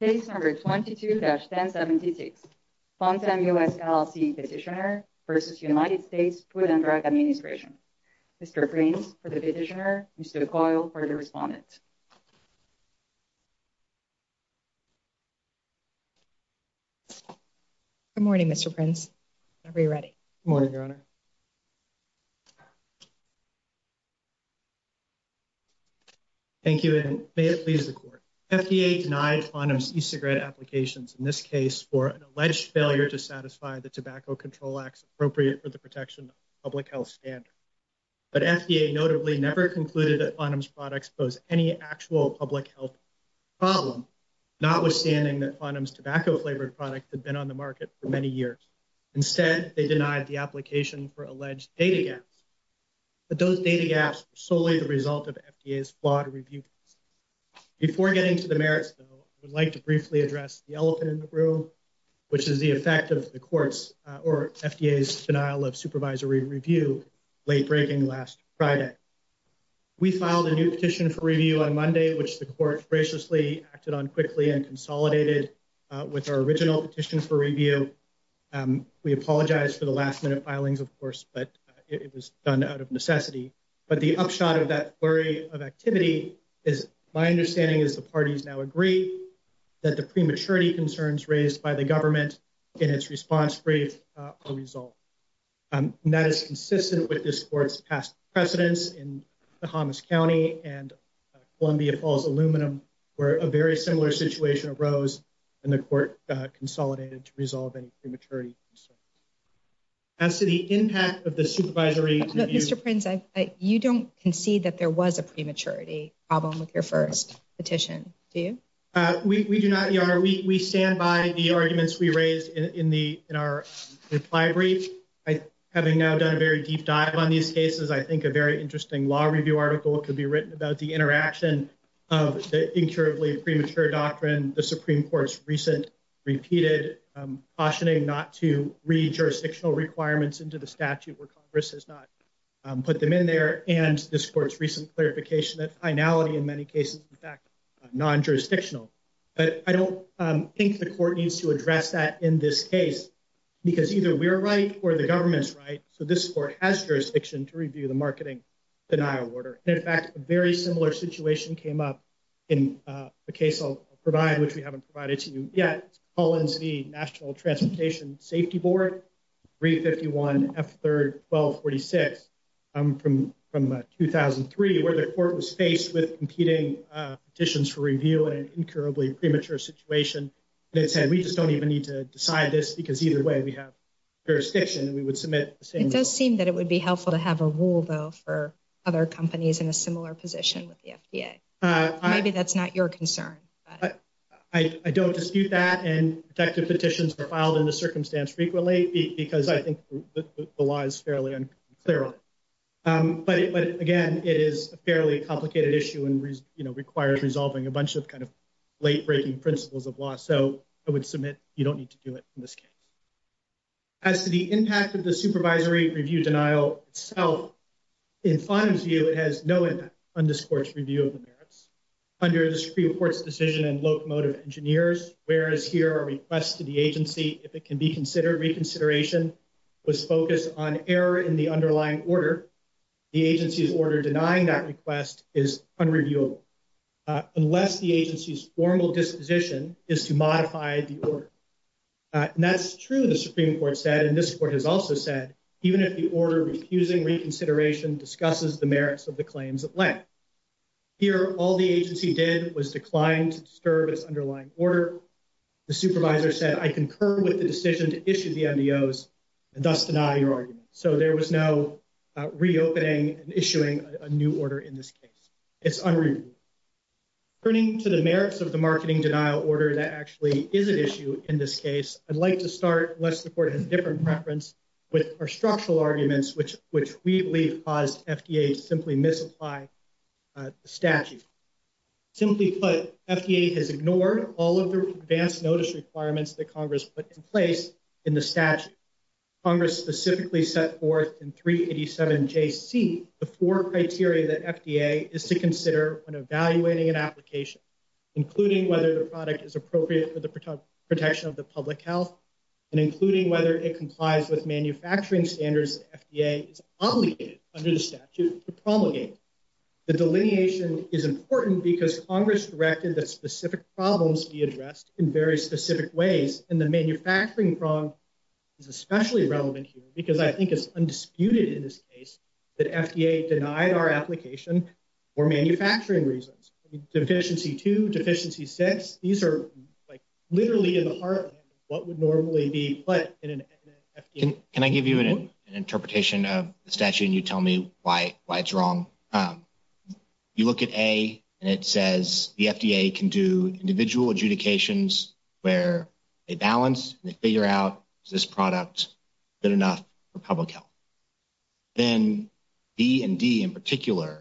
Case number 22-1076 Fontenham US, LLC Petitioner v. United States Food and Drug Administration Mr. Prince for the petitioner, Mr. Coyle for the respondent. Good morning Mr. Prince whenever you're ready. Good morning Your Honor. Thank you and may it please the court. FDA denied Fontenham's e-cigarette applications in this case for an alleged failure to satisfy the tobacco control acts appropriate for the protection of public health standards. But FDA notably never concluded that Fontenham's products pose any actual public health problem, notwithstanding that Fontenham's tobacco flavored products had been on the market for many years. Instead they denied the application for alleged data gaps. But those data gaps were solely the result of FDA's flawed review process. Before getting to the merits though, I would like to briefly address the elephant in the room, which is the effect of the court's, or FDA's, denial of supervisory review late breaking last Friday. We filed a new petition for review on Monday, which the court graciously acted on quickly and consolidated with our original petition for review. We apologize for the last minute filings of course, but it was done out of necessity. But the upshot of that flurry of activity is my understanding is the parties now agree that the prematurity concerns raised by the government in its response brief are resolved. And that is consistent with this court's past precedents in the Hummus County and Columbia Falls Aluminum, where a very similar situation arose and the court consolidated to resolve any prematurity concerns. As to the impact of the supervisory review- problem with your first petition, do you? We do not, Your Honor. We stand by the arguments we raised in our reply brief. Having now done a very deep dive on these cases, I think a very interesting law review article could be written about the interaction of the incurably premature doctrine the Supreme Court's recent repeated cautioning not to read jurisdictional requirements into the statute where Congress has not put them in there. And this court's recent clarification that finality in many cases, in fact, non-jurisdictional. But I don't think the court needs to address that in this case because either we're right or the government's right. So this court has jurisdiction to review the marketing denial order. And in fact, a very similar situation came up in the case I'll provide, which we haven't provided to you yet. Collins v. National Transportation Safety Board, 351 F3-1246, from 2003, where the court was faced with competing petitions for review in an incurably premature situation. And it said, we just don't even need to decide this because either way, we have jurisdiction and we would submit the same. It does seem that it would be helpful to have a rule, though, for other companies in a similar position with the FDA. Maybe that's not your concern. I don't dispute that. And protective petitions are filed in this circumstance frequently because I think the law is fairly unclear on it. But again, it is a fairly complicated issue and requires resolving a bunch of kind of late-breaking principles of law. So I would submit you don't need to do it in this case. As to the impact of the supervisory review denial itself, in Fonum's view, it has no impact on this court's review of the merits. Under this pre-report's decision and locomotive engineers, whereas here are requests to the reconsideration was focused on error in the underlying order, the agency's order denying that request is unreviewable, unless the agency's formal disposition is to modify the order. That's true, the Supreme Court said, and this court has also said, even if the order refusing reconsideration discusses the merits of the claims at length. Here, all the agency did was decline to disturb its underlying order. The supervisor said, I concur with the decision to issue the MDOs and thus deny your argument. So there was no reopening and issuing a new order in this case. It's unreviewable. Turning to the merits of the marketing denial order that actually is an issue in this case, I'd like to start, unless the court has a different preference, with our structural arguments which we believe caused FDA to simply misapply the statute. Simply put, FDA has ignored all of the advance notice requirements that Congress put in place in the statute. Congress specifically set forth in 387JC the four criteria that FDA is to consider when evaluating an application, including whether the product is appropriate for the protection of the public health, and including whether it complies with manufacturing standards that FDA is obligated under the statute to promulgate. The delineation is important because Congress directed that specific problems be addressed in very specific ways, and the manufacturing problem is especially relevant here, because I think it's undisputed in this case that FDA denied our application for manufacturing reasons. Deficiency two, deficiency six, these are literally in the heart of what would normally be put in an FDA report. Can I give you an interpretation of the statute and you tell me why it's wrong? You look at A, and it says the FDA can do individual adjudications where they balance, they figure out, is this product good enough for public health? Then B and D in particular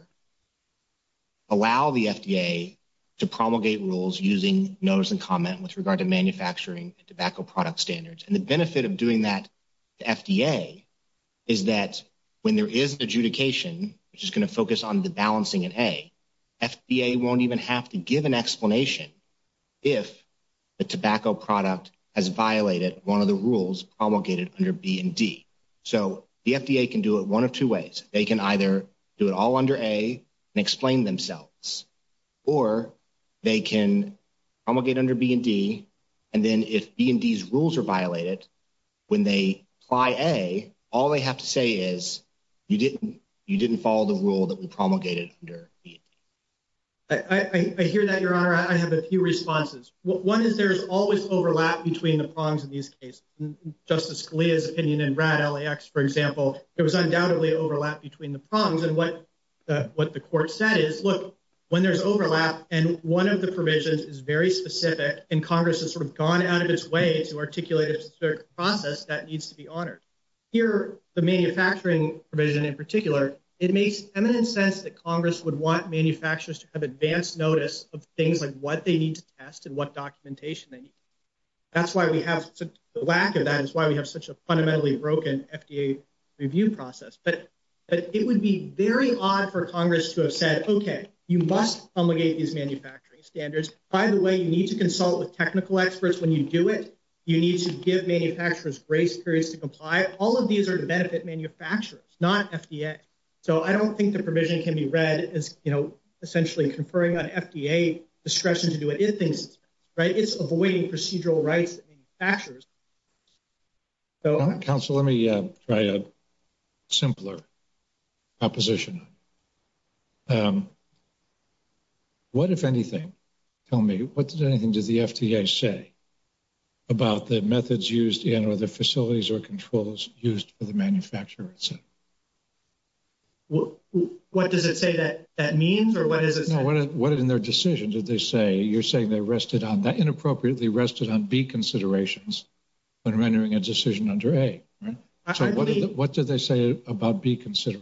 allow the FDA to promulgate rules using notice and comment with regard to manufacturing and tobacco product standards. The benefit of doing that to FDA is that when there is an adjudication, which is going to focus on the balancing in A, FDA won't even have to give an explanation if the tobacco product has violated one of the rules promulgated under B and D. So the FDA can do it one of two ways. They can either do it all under A and explain themselves, or they can promulgate under B and D, and then if B and D's rules are violated, when they apply A, all they have to say is, you didn't follow the rule that we promulgated under B and D. I hear that, Your Honor. I have a few responses. One is there's always overlap between the prongs in these cases. Justice Scalia's opinion in RAD LAX, for example, there was undoubtedly overlap between the prongs. What the court said is, look, when there's overlap and one of the provisions is very specific and Congress has sort of gone out of its way to articulate a certain process, that needs to be honored. Here, the manufacturing provision in particular, it makes eminent sense that Congress would want manufacturers to have advanced notice of things like what they need to test and what documentation they need. The lack of that is why we have such a fundamentally broken FDA review process. But it would be very odd for Congress to have said, okay, you must promulgate these manufacturing standards. By the way, you need to consult with technical experts when you do it. You need to give manufacturers grace periods to comply. All of these are to benefit manufacturers, not FDA. So I don't think the provision can be read as essentially conferring on FDA discretion to do anything. It's avoiding procedural rights. Counsel, let me try a simpler proposition. What, if anything, tell me, what does the FDA say about the methods used in or the facilities or controls used for the manufacturers? Well, what does it say that that means or what is it? What is in their decision? Did they say you're saying they rested on that inappropriately rested on B considerations when rendering a decision under a what did they say about B considered?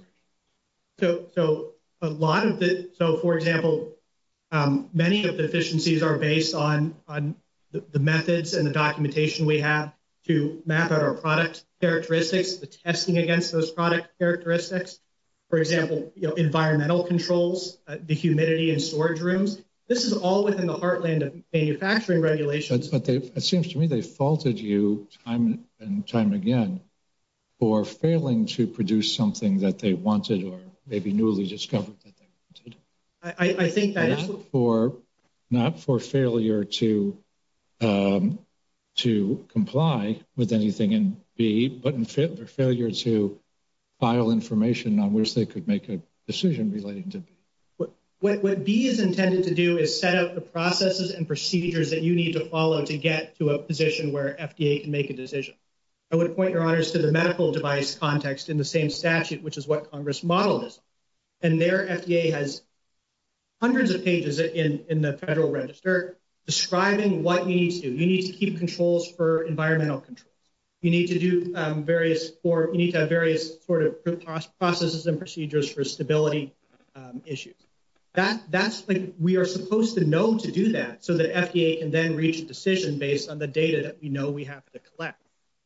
So, so a lot of it. So, for example, many of the deficiencies are based on on the methods and the documentation we have to map out our product characteristics, the testing against those product characteristics. For example, environmental controls, the humidity and storage rooms. This is all within the heartland of manufacturing regulations. But it seems to me they faulted you time and time again for failing to produce something that they to comply with anything in B, but their failure to file information on which they could make a decision relating to what B is intended to do is set up the processes and procedures that you need to follow to get to a position where FDA can make a decision. I would point your honors to the medical device context in the same statute, which is what Congress modeled. And their FDA has hundreds of pages in the Federal Register describing what you need to do. You need to keep controls for environmental control. You need to do various or you need to have various sort of processes and procedures for stability issues. That's like we are supposed to know to do that so that FDA can then reach a decision based on the data that we know we have to collect.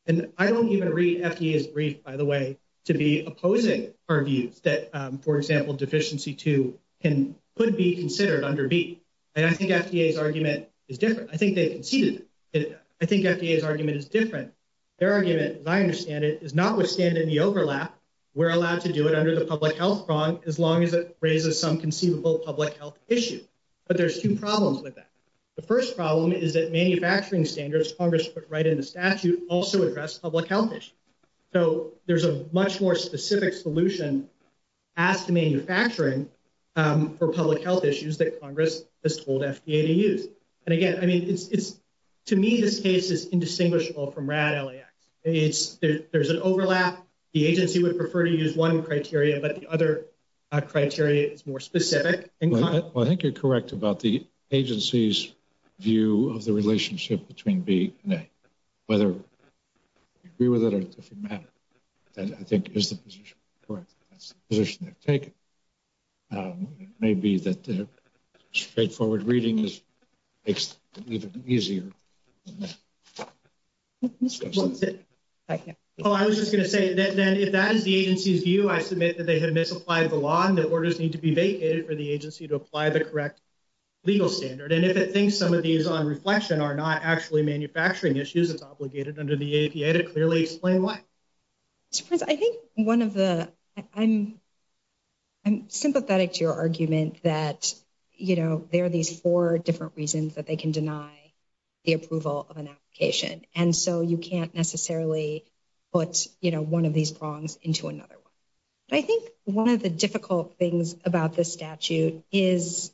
And I don't even read FDA's brief, by the way, to be opposing our views that, for example, deficiency to can could be considered under beat. And I think FDA's argument is different. I think they conceded it. I think FDA's argument is different. Their argument, as I understand it, is notwithstanding the overlap. We're allowed to do it under the public health prong as long as it raises some conceivable public health issue. But there's two problems with that. The first problem is that manufacturing standards Congress put right in the statute also address public health So there's a much more specific solution as to manufacturing for public health issues that Congress has told FDA to use. And again, I mean, it's to me, this case is indistinguishable from RAD LAX. It's there's an overlap. The agency would prefer to use one criteria, but the other criteria is more specific. I think you're correct about the agency's view of the relationship between B and A. Whether you agree with it or not, I think is the position correct. That's the position they've taken. Maybe that straightforward reading makes it even easier. Well, I was just going to say that then if that is the agency's view, I submit that they have misapplied the law and that orders need to be vacated for the agency to apply the correct legal standard. And if it thinks some of these on reflection are not actually manufacturing issues, it's obligated under the APA to clearly explain why. Mr. Prince, I think one of the, I'm sympathetic to your argument that, you know, there are these four different reasons that they can deny the approval of an application. And so you can't necessarily put, you know, one of these wrongs into another one. I think one of the difficult things about this statute is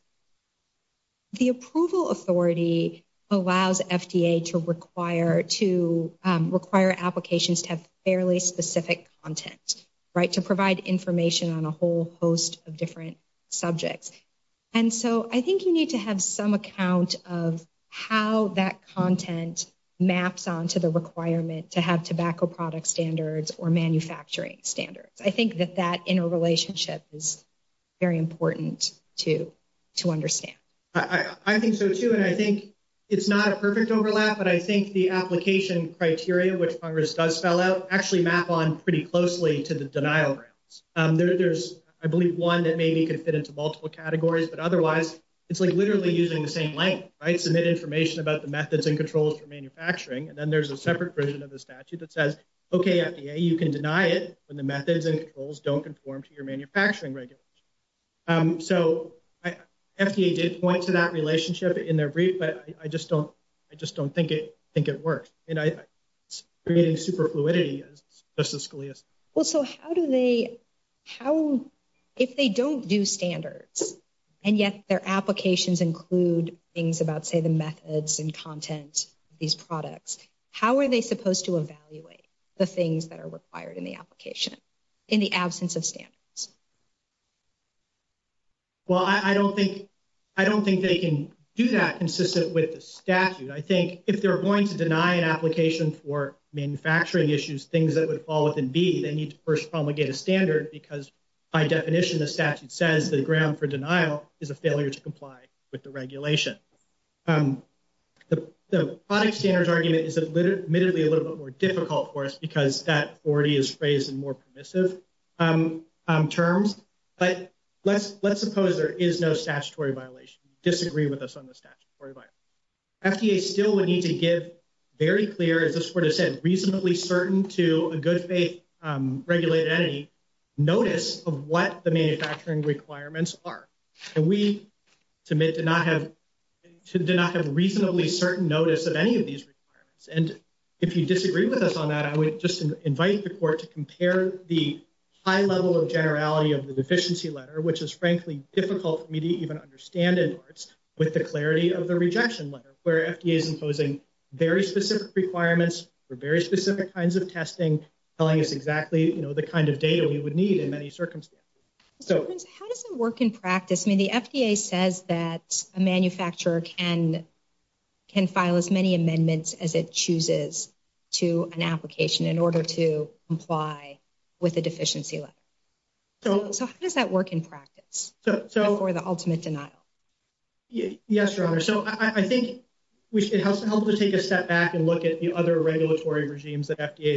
the approval authority allows FDA to require applications to have fairly specific content, right, to provide information on a whole host of different subjects. And so I think you need to have some account of how that content maps onto the requirement to have tobacco product standards or manufacturing standards. I think that that interrelationship is very important to understand. I think so too. And I think it's not a perfect overlap, but I think the application criteria, which Congress does spell out, actually map on pretty closely to the denial grounds. There's, I believe, one that maybe could fit into multiple categories, but otherwise it's like literally using the same language, right? Submit information about the methods and controls for manufacturing. And then there's a separate version of the statute that regulates. So FDA did point to that relationship in their brief, but I just don't, I just don't think it works. You know, it's creating super fluidity, as Justice Scalia said. Well, so how do they, how, if they don't do standards and yet their applications include things about, say, the methods and content of these products, how are they supposed to evaluate the things that are required in the application in the absence of standards? Well, I don't think, I don't think they can do that consistent with the statute. I think if they're going to deny an application for manufacturing issues, things that would fall within B, they need to first promulgate a standard because by definition, the statute says the ground for denial is a failure to comply with the regulation. The product standards argument is admittedly a little bit more difficult for us because that already is phrased in more permissive terms. But let's, let's suppose there is no statutory violation. Disagree with us on the statutory violation. FDA still would need to give very clear, as I sort of said, reasonably certain to a good faith regulated entity, notice of what the manufacturing requirements are. And we submit to do not have a reasonably certain notice of any of these requirements. And if you disagree with us on that, I would just invite the court to compare the high level of generality of the deficiency letter, which is frankly difficult for me to even understand in parts with the clarity of the rejection letter where FDA is imposing very specific requirements for very specific kinds of testing, telling us exactly, you know, the kind of data we would need in many circumstances. So how does it work in practice? I mean, the FDA says that a manufacturer can, can file as many amendments as it chooses to an application in order to comply with a deficiency letter. So how does that work in practice for the ultimate denial? Yes, Your Honor. So I think it helps to help to take a step back and look at the other regulatory regimes that FDA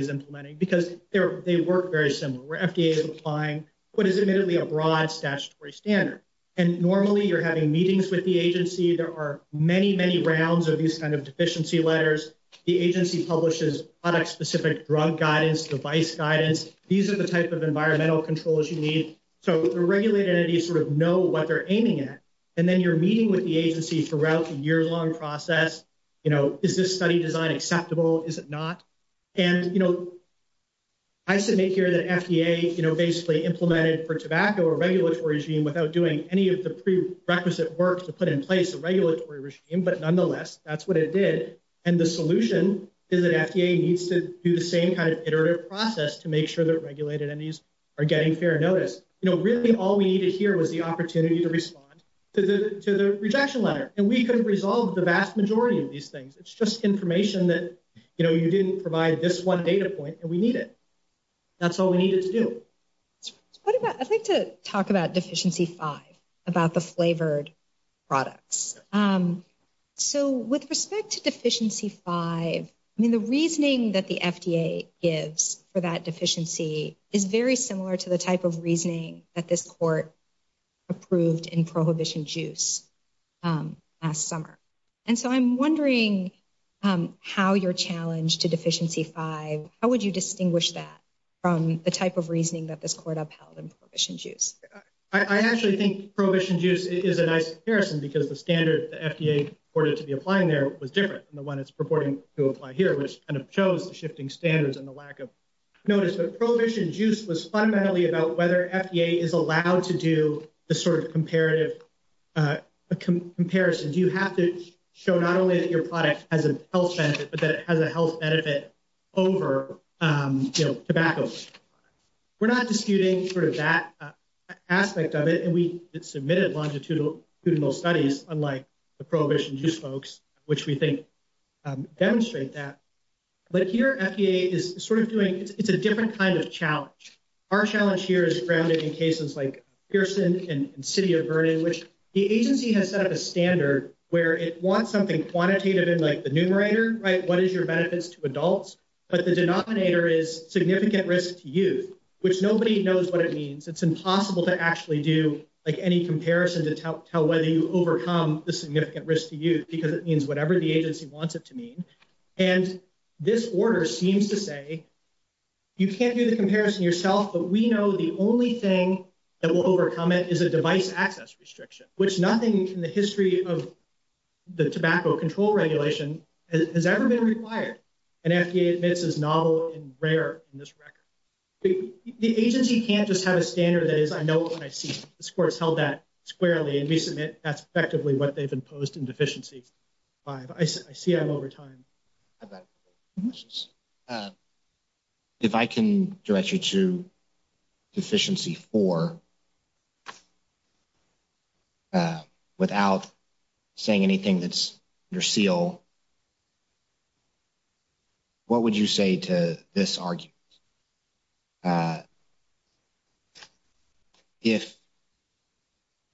is a broad statutory standard. And normally you're having meetings with the agency. There are many, many rounds of these kinds of deficiency letters. The agency publishes product specific drug guidance, device guidance. These are the type of environmental controls you need. So the regulated entities sort of know what they're aiming at. And then you're meeting with the agency throughout the year long process. You know, is this study design acceptable? Is it not? And, you know, I submit here that FDA, you know, basically implemented for tobacco or regulatory regime without doing any of the prerequisite work to put in place a regulatory regime, but nonetheless, that's what it did. And the solution is that FDA needs to do the same kind of iterative process to make sure that regulated entities are getting fair notice. You know, really all we needed here was the opportunity to respond to the, to the rejection letter. And we couldn't resolve the vast majority of these things. It's just information that, you know, you didn't provide this one data point and we need it. That's all we needed to do. What about, I'd like to talk about deficiency five, about the flavored products. So with respect to deficiency five, I mean, the reasoning that the FDA gives for that deficiency is very similar to the type of reasoning that this court approved in prohibition juice last summer. And so I'm wondering how your challenge to deficiency five, how would you distinguish that from the type of reasoning that this court upheld in prohibition juice? I actually think prohibition juice is a nice comparison because the standard the FDA ordered to be applying there was different than the one it's purporting to apply here, which kind of shows the shifting standards and the lack of notice. But prohibition juice was fundamentally about whether FDA is allowed to do the sort of a comparison. Do you have to show not only that your product has a health benefit, but that it has a health benefit over, you know, tobacco. We're not disputing sort of that aspect of it. And we submitted longitudinal studies, unlike the prohibition juice folks, which we think demonstrate that. But here FDA is sort of doing, it's a different kind of challenge. Our challenge here is grounded in cases like Pearson and City of Vernon, which the agency has set up a standard where it wants something quantitative in like the numerator, right? What is your benefits to adults? But the denominator is significant risk to youth, which nobody knows what it means. It's impossible to actually do like any comparison to tell whether you overcome the significant risk to youth because it means whatever the agency wants it to mean. And this order seems to say you can't do the only thing that will overcome it is a device access restriction, which nothing in the history of the tobacco control regulation has ever been required. And FDA admits is novel and rare in this record. The agency can't just have a standard that is, I know what I see. This court has held that squarely and we submit that's effectively what they've imposed in deficiency five. I see over time. If I can direct you to deficiency four without saying anything that's your seal, what would you say to this argument? Uh, if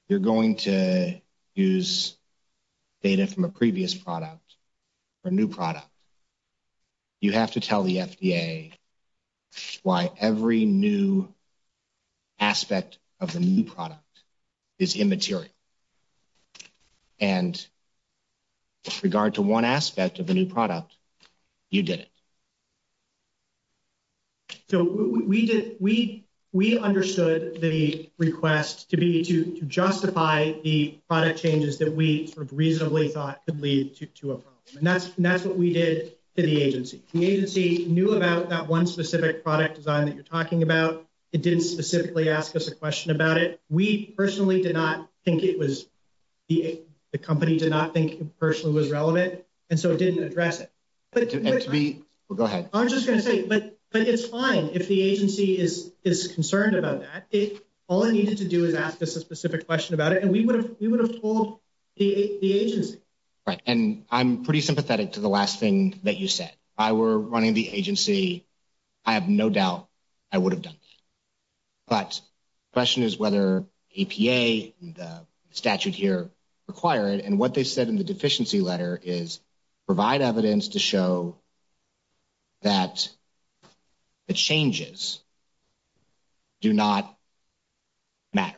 you're going to use data from a previous product or new product, you have to tell the FDA why every new aspect of the new product is immaterial. And with regard to one aspect of the new product, you did it. So we did, we, we understood the request to be to justify the product changes that we sort of reasonably thought could lead to a problem. And that's, that's what we did to the agency. The agency knew about that one specific product design that you're talking about. It didn't specifically ask us a question about it. We personally did not think it was the, the company did not think personally was relevant. And so it didn't address it, but we'll go ahead. I'm just going to say, but, but it's fine. If the agency is, is concerned about that, it all it needed to do is ask us a specific question about it. And we would have, we would have pulled the agency. Right. And I'm pretty sympathetic to the last thing that you said. If I were running the agency, I have no doubt I would have done that. But the question is whether APA and the statute here require it. And what they said in the deficiency letter is provide evidence to show that the changes do not matter.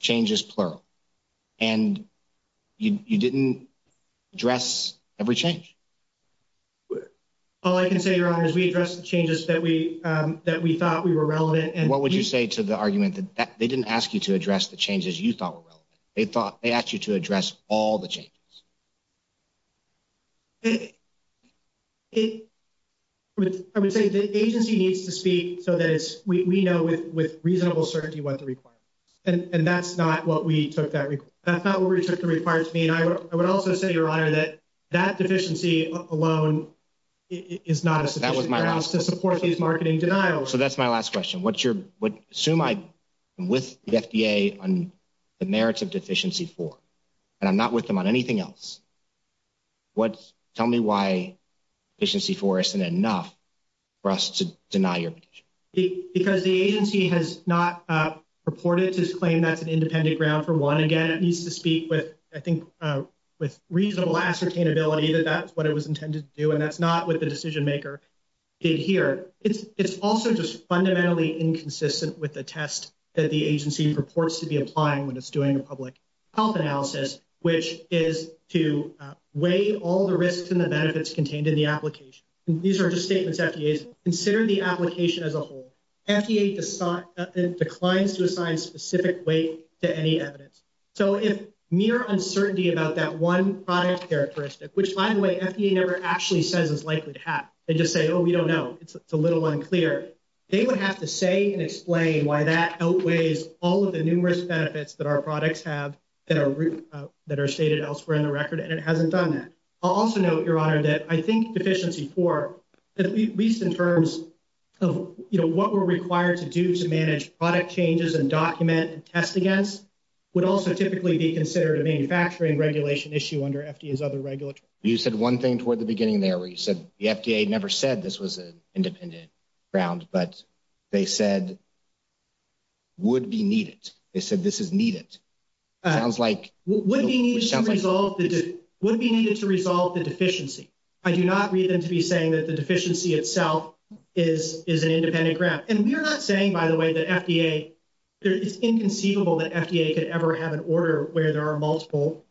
Change is plural. And you didn't address every change. All I can say, your honor, is we addressed the changes that we, that we thought we were relevant. And what would you say to the argument that they didn't ask you to address the changes you thought were relevant. They thought they asked you to address all the changes. It would, I would say the agency needs to speak so that it's, we know with, with reasonable certainty what the requirement is. And that's not what we took that, that's not what we took required to me. And I would also say, your honor, that that deficiency alone is not a sufficient grounds to support these marketing denials. So that's my last question. What's your, what, assume I'm with the FDA on the merits of deficiency four, and I'm not with them on anything else. What, tell me why deficiency four isn't enough for us to deny your petition. Because the agency has not purported to claim that's an independent ground for one. Again, it needs to speak with, I think, with reasonable ascertainability that that's what it was intended to do. And that's not what the decision maker did here. It's, it's also just fundamentally inconsistent with the test that the agency purports to be applying when it's doing a public health analysis, which is to weigh all the risks and the benefits contained in the application. These are just statements FDA's considered the application as a whole. FDA declines to assign specific weight to any evidence. So if mere uncertainty about that one product characteristic, which by the way, FDA never actually says is likely to happen. They just say, oh, we don't know. It's a little unclear. They would have to say and explain why that outweighs all of the numerous benefits that our products have that are, that are stated elsewhere in the record. And it hasn't done that. I'll also note, your honor, that I think deficiency four, at least in terms of, you know, what we're required to do to manage product changes and document and test against would also typically be considered a manufacturing regulation issue under FDA's other regulatory. You said one thing toward the beginning there where you said the FDA never said this was an independent ground, but they said would be needed. They said, this is needed. Sounds like would be needed to resolve the deficiency. I do not read them to be saying that the deficiency itself is, is an independent ground. And we're not saying by the way that FDA, it's inconceivable that FDA could ever have an order where there are multiple,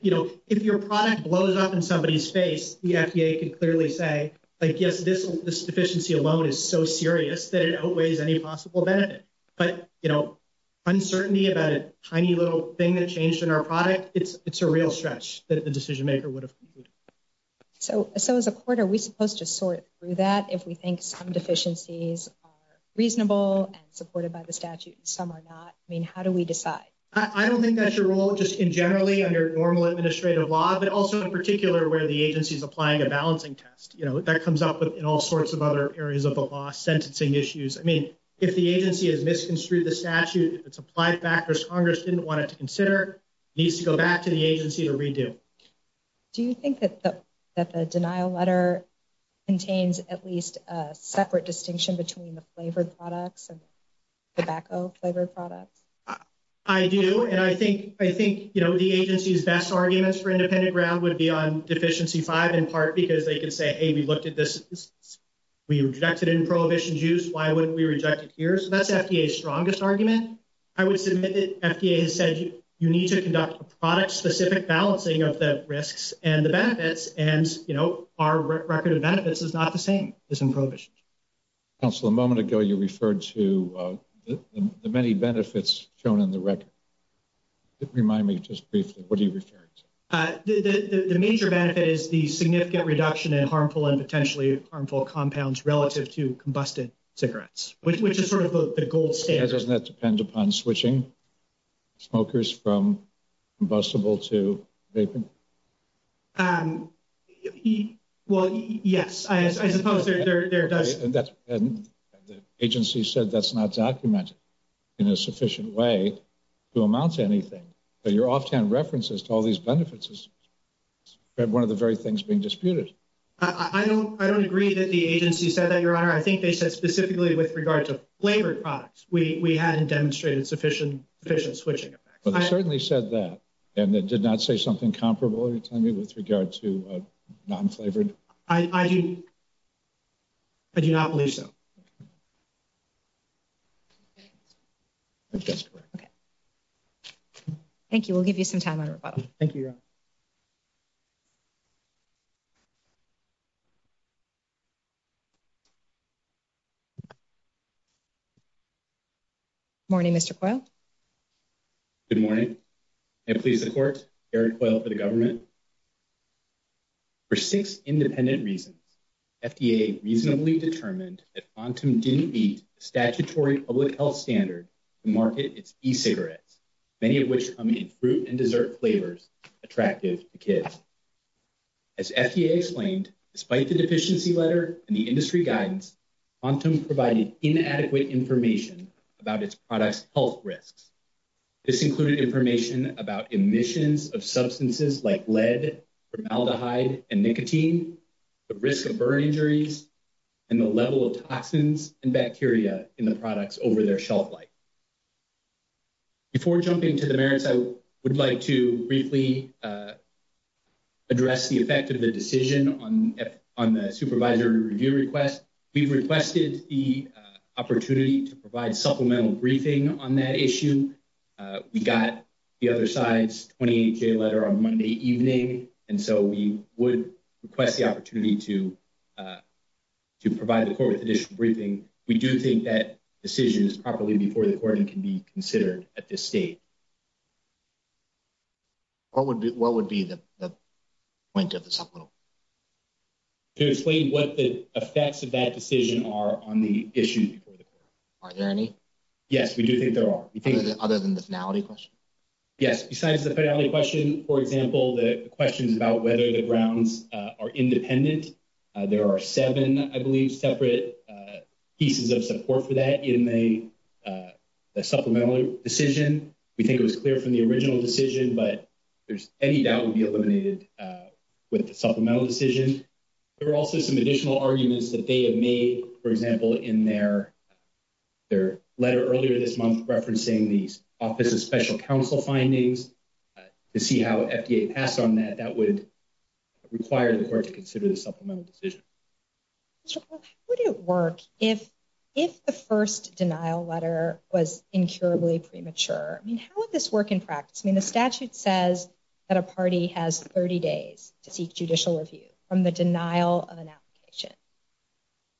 you know, if your product blows up in somebody's face, the FDA could clearly say, like, yes, this deficiency alone is so serious that it outweighs any possible benefit. But, you know, uncertainty about a tiny little thing that changed in our product, it's, it's a real stretch that the decision maker would have. So, so as a court, are we supposed to sort through that? If we think some deficiencies are reasonable and supported by the statute and some are not, I mean, how do we decide? I don't think that's your role just in generally under normal administrative law, but also in particular where the agency is applying a balancing test, you know, that comes up in all sorts of other areas of the law, sentencing issues. I mean, if the agency has misconstrued the statute, if it's applied factors, Congress didn't want it to consider, needs to go back to the agency to redo. Do you think that the denial letter contains at least a separate distinction between the flavored products and tobacco flavored products? I do. And I think, I think, you know, the agency's best arguments for independent ground would be on deficiency five in part, because they can say, hey, we looked at this. We rejected in prohibition juice. Why wouldn't we reject it here? So that's FDA strongest argument. I would submit that FDA has said you need to conduct a product specific balancing of the risks and the benefits. And, you know, our record of benefits is not the same as in prohibition. Counselor, a moment ago, you referred to the many benefits shown in the record. Remind me just briefly, what are you referring to? The major benefit is the significant reduction in harmful and potentially harmful compounds relative to combusted cigarettes, which is sort of the gold standard. Doesn't that depend upon switching smokers from combustible to vaping? Well, yes, I suppose there does. The agency said that's not documented in a sufficient way to amount to anything. But your offhand references to all these benefits is one of the very things being disputed. I don't I don't agree that the agency said that, your honor. I think they said specifically with regard to flavored products. We we hadn't demonstrated sufficient efficient switching. But they certainly said that and that did not say something comparable to me with regard to non flavored. I do. I do not believe so. Thank you. We'll give you some time. Thank you. Good morning, Mr. Quayle. Good morning. May it please the court, Eric Quayle for the government. For six independent reasons, FDA reasonably determined that FONTM didn't meet the statutory public health standard to market its e-cigarettes, many of which come in fruit and dessert flavors attractive to kids. As FDA explained, despite the deficiency letter and the industry guidance, FONTM provided inadequate information about its products health risks. This included information about emissions of substances like lead, formaldehyde and nicotine, the risk of burn injuries and the level of toxins and bacteria in the products over their shelf life. Before jumping to the merits, I would like to briefly address the effect of the decision on the supervisor review request. We've requested the opportunity to provide supplemental briefing on that issue. We got the other side's 28 day letter on Monday evening. And so we would request the opportunity to to provide the court with additional briefing. We do think that decision is properly before the court and can be considered at this state. What would be what would be the point of the supplemental? To explain what the effects of that decision are on the issue before the court. Are there any? Yes, we do think there are. Other than the finality question? Yes, besides the finality question, for example, the questions about whether the grounds are independent. There are seven, I believe, separate pieces of support for that in the the supplemental decision. We think it was clear from the original decision, but there's any doubt would be eliminated with the supplemental decision. There are also some additional arguments that they have made, for example, in their their letter earlier this month, referencing the Office of Special Counsel findings to see how FDA passed on that that would require the court to consider the supplemental decision. Would it work if if the first denial letter was incurably premature? I mean, how would this work in practice? I mean, the statute says that a party has 30 days to seek judicial review from the denial of an application.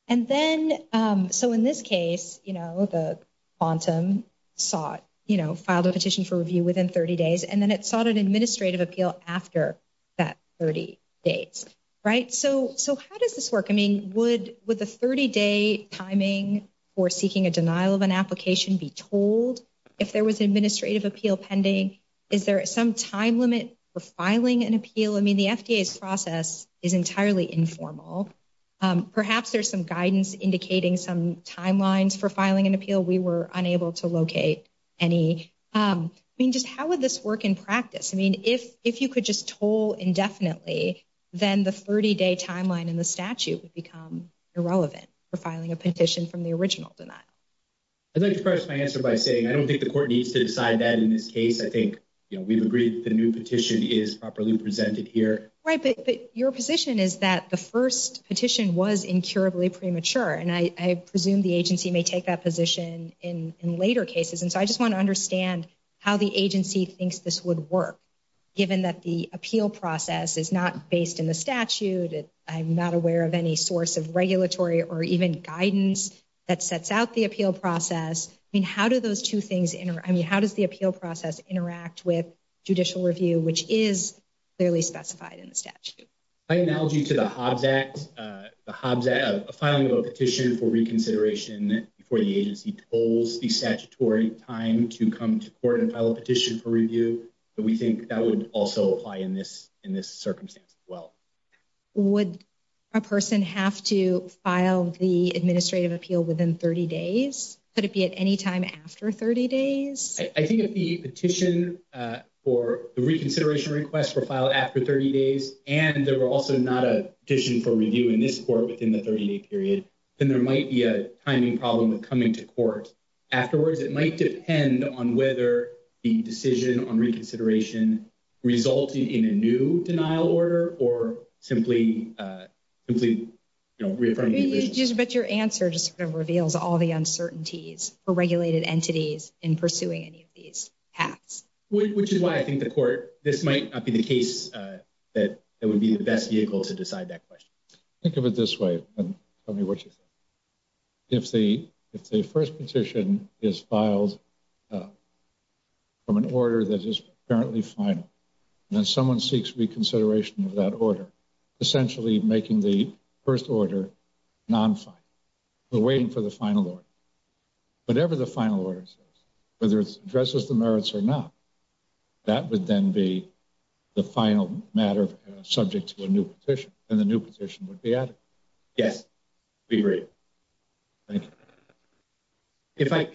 And then so in this case, you know, the quantum sought, you know, filed a petition for review within 30 days, and then it sought an administrative appeal after that 30 days, right? So so how does this work? I mean, would with a 30 day timing for seeking a denial of an application be told if there was administrative appeal pending? Is there some time limit for filing an appeal? I mean, the FDA's process is entirely informal. Perhaps there's some guidance indicating some timelines for filing an appeal. We were unable to locate any. I mean, how would this work in practice? I mean, if if you could just toll indefinitely, then the 30 day timeline in the statute would become irrelevant for filing a petition from the original denial. I'd like to press my answer by saying I don't think the court needs to decide that in this case. I think we've agreed the new petition is properly presented here. Right. But your position is that the first petition was incurably premature. And I presume the agency may take that position in later cases. And so I just want to understand how the agency thinks this would work, given that the appeal process is not based in the statute. I'm not aware of any source of regulatory or even guidance that sets out the appeal process. I mean, how do those two things? I mean, how does the appeal process interact with judicial review, which is clearly specified in the statute? By analogy to the Hobbs Act, the Hobbs Act, a filing of a petition for reconsideration before the agency tolls the statutory time to come to court and file a petition for review. We think that would also apply in this in this circumstance as well. Would a person have to file the administrative appeal within 30 days? Could it be at any time after 30 days? I think the petition for the reconsideration request were filed after 30 days and there were also not a petition for review in this court within the 30-day period, then there might be a timing problem with coming to court afterwards. It might depend on whether the decision on reconsideration resulted in a new denial order or simply simply, you know, referring. But your answer just sort of halves, which is why I think the court, this might not be the case that it would be the best vehicle to decide that question. Think of it this way and tell me what you think. If the if the first petition is filed from an order that is currently final, then someone seeks reconsideration of that order, essentially making the first order non-final. We're waiting for the final order. Whatever the final order says, whether it addresses the merits or not, that would then be the final matter subject to a new petition and the new petition would be added. Yes, we agree. Thank you.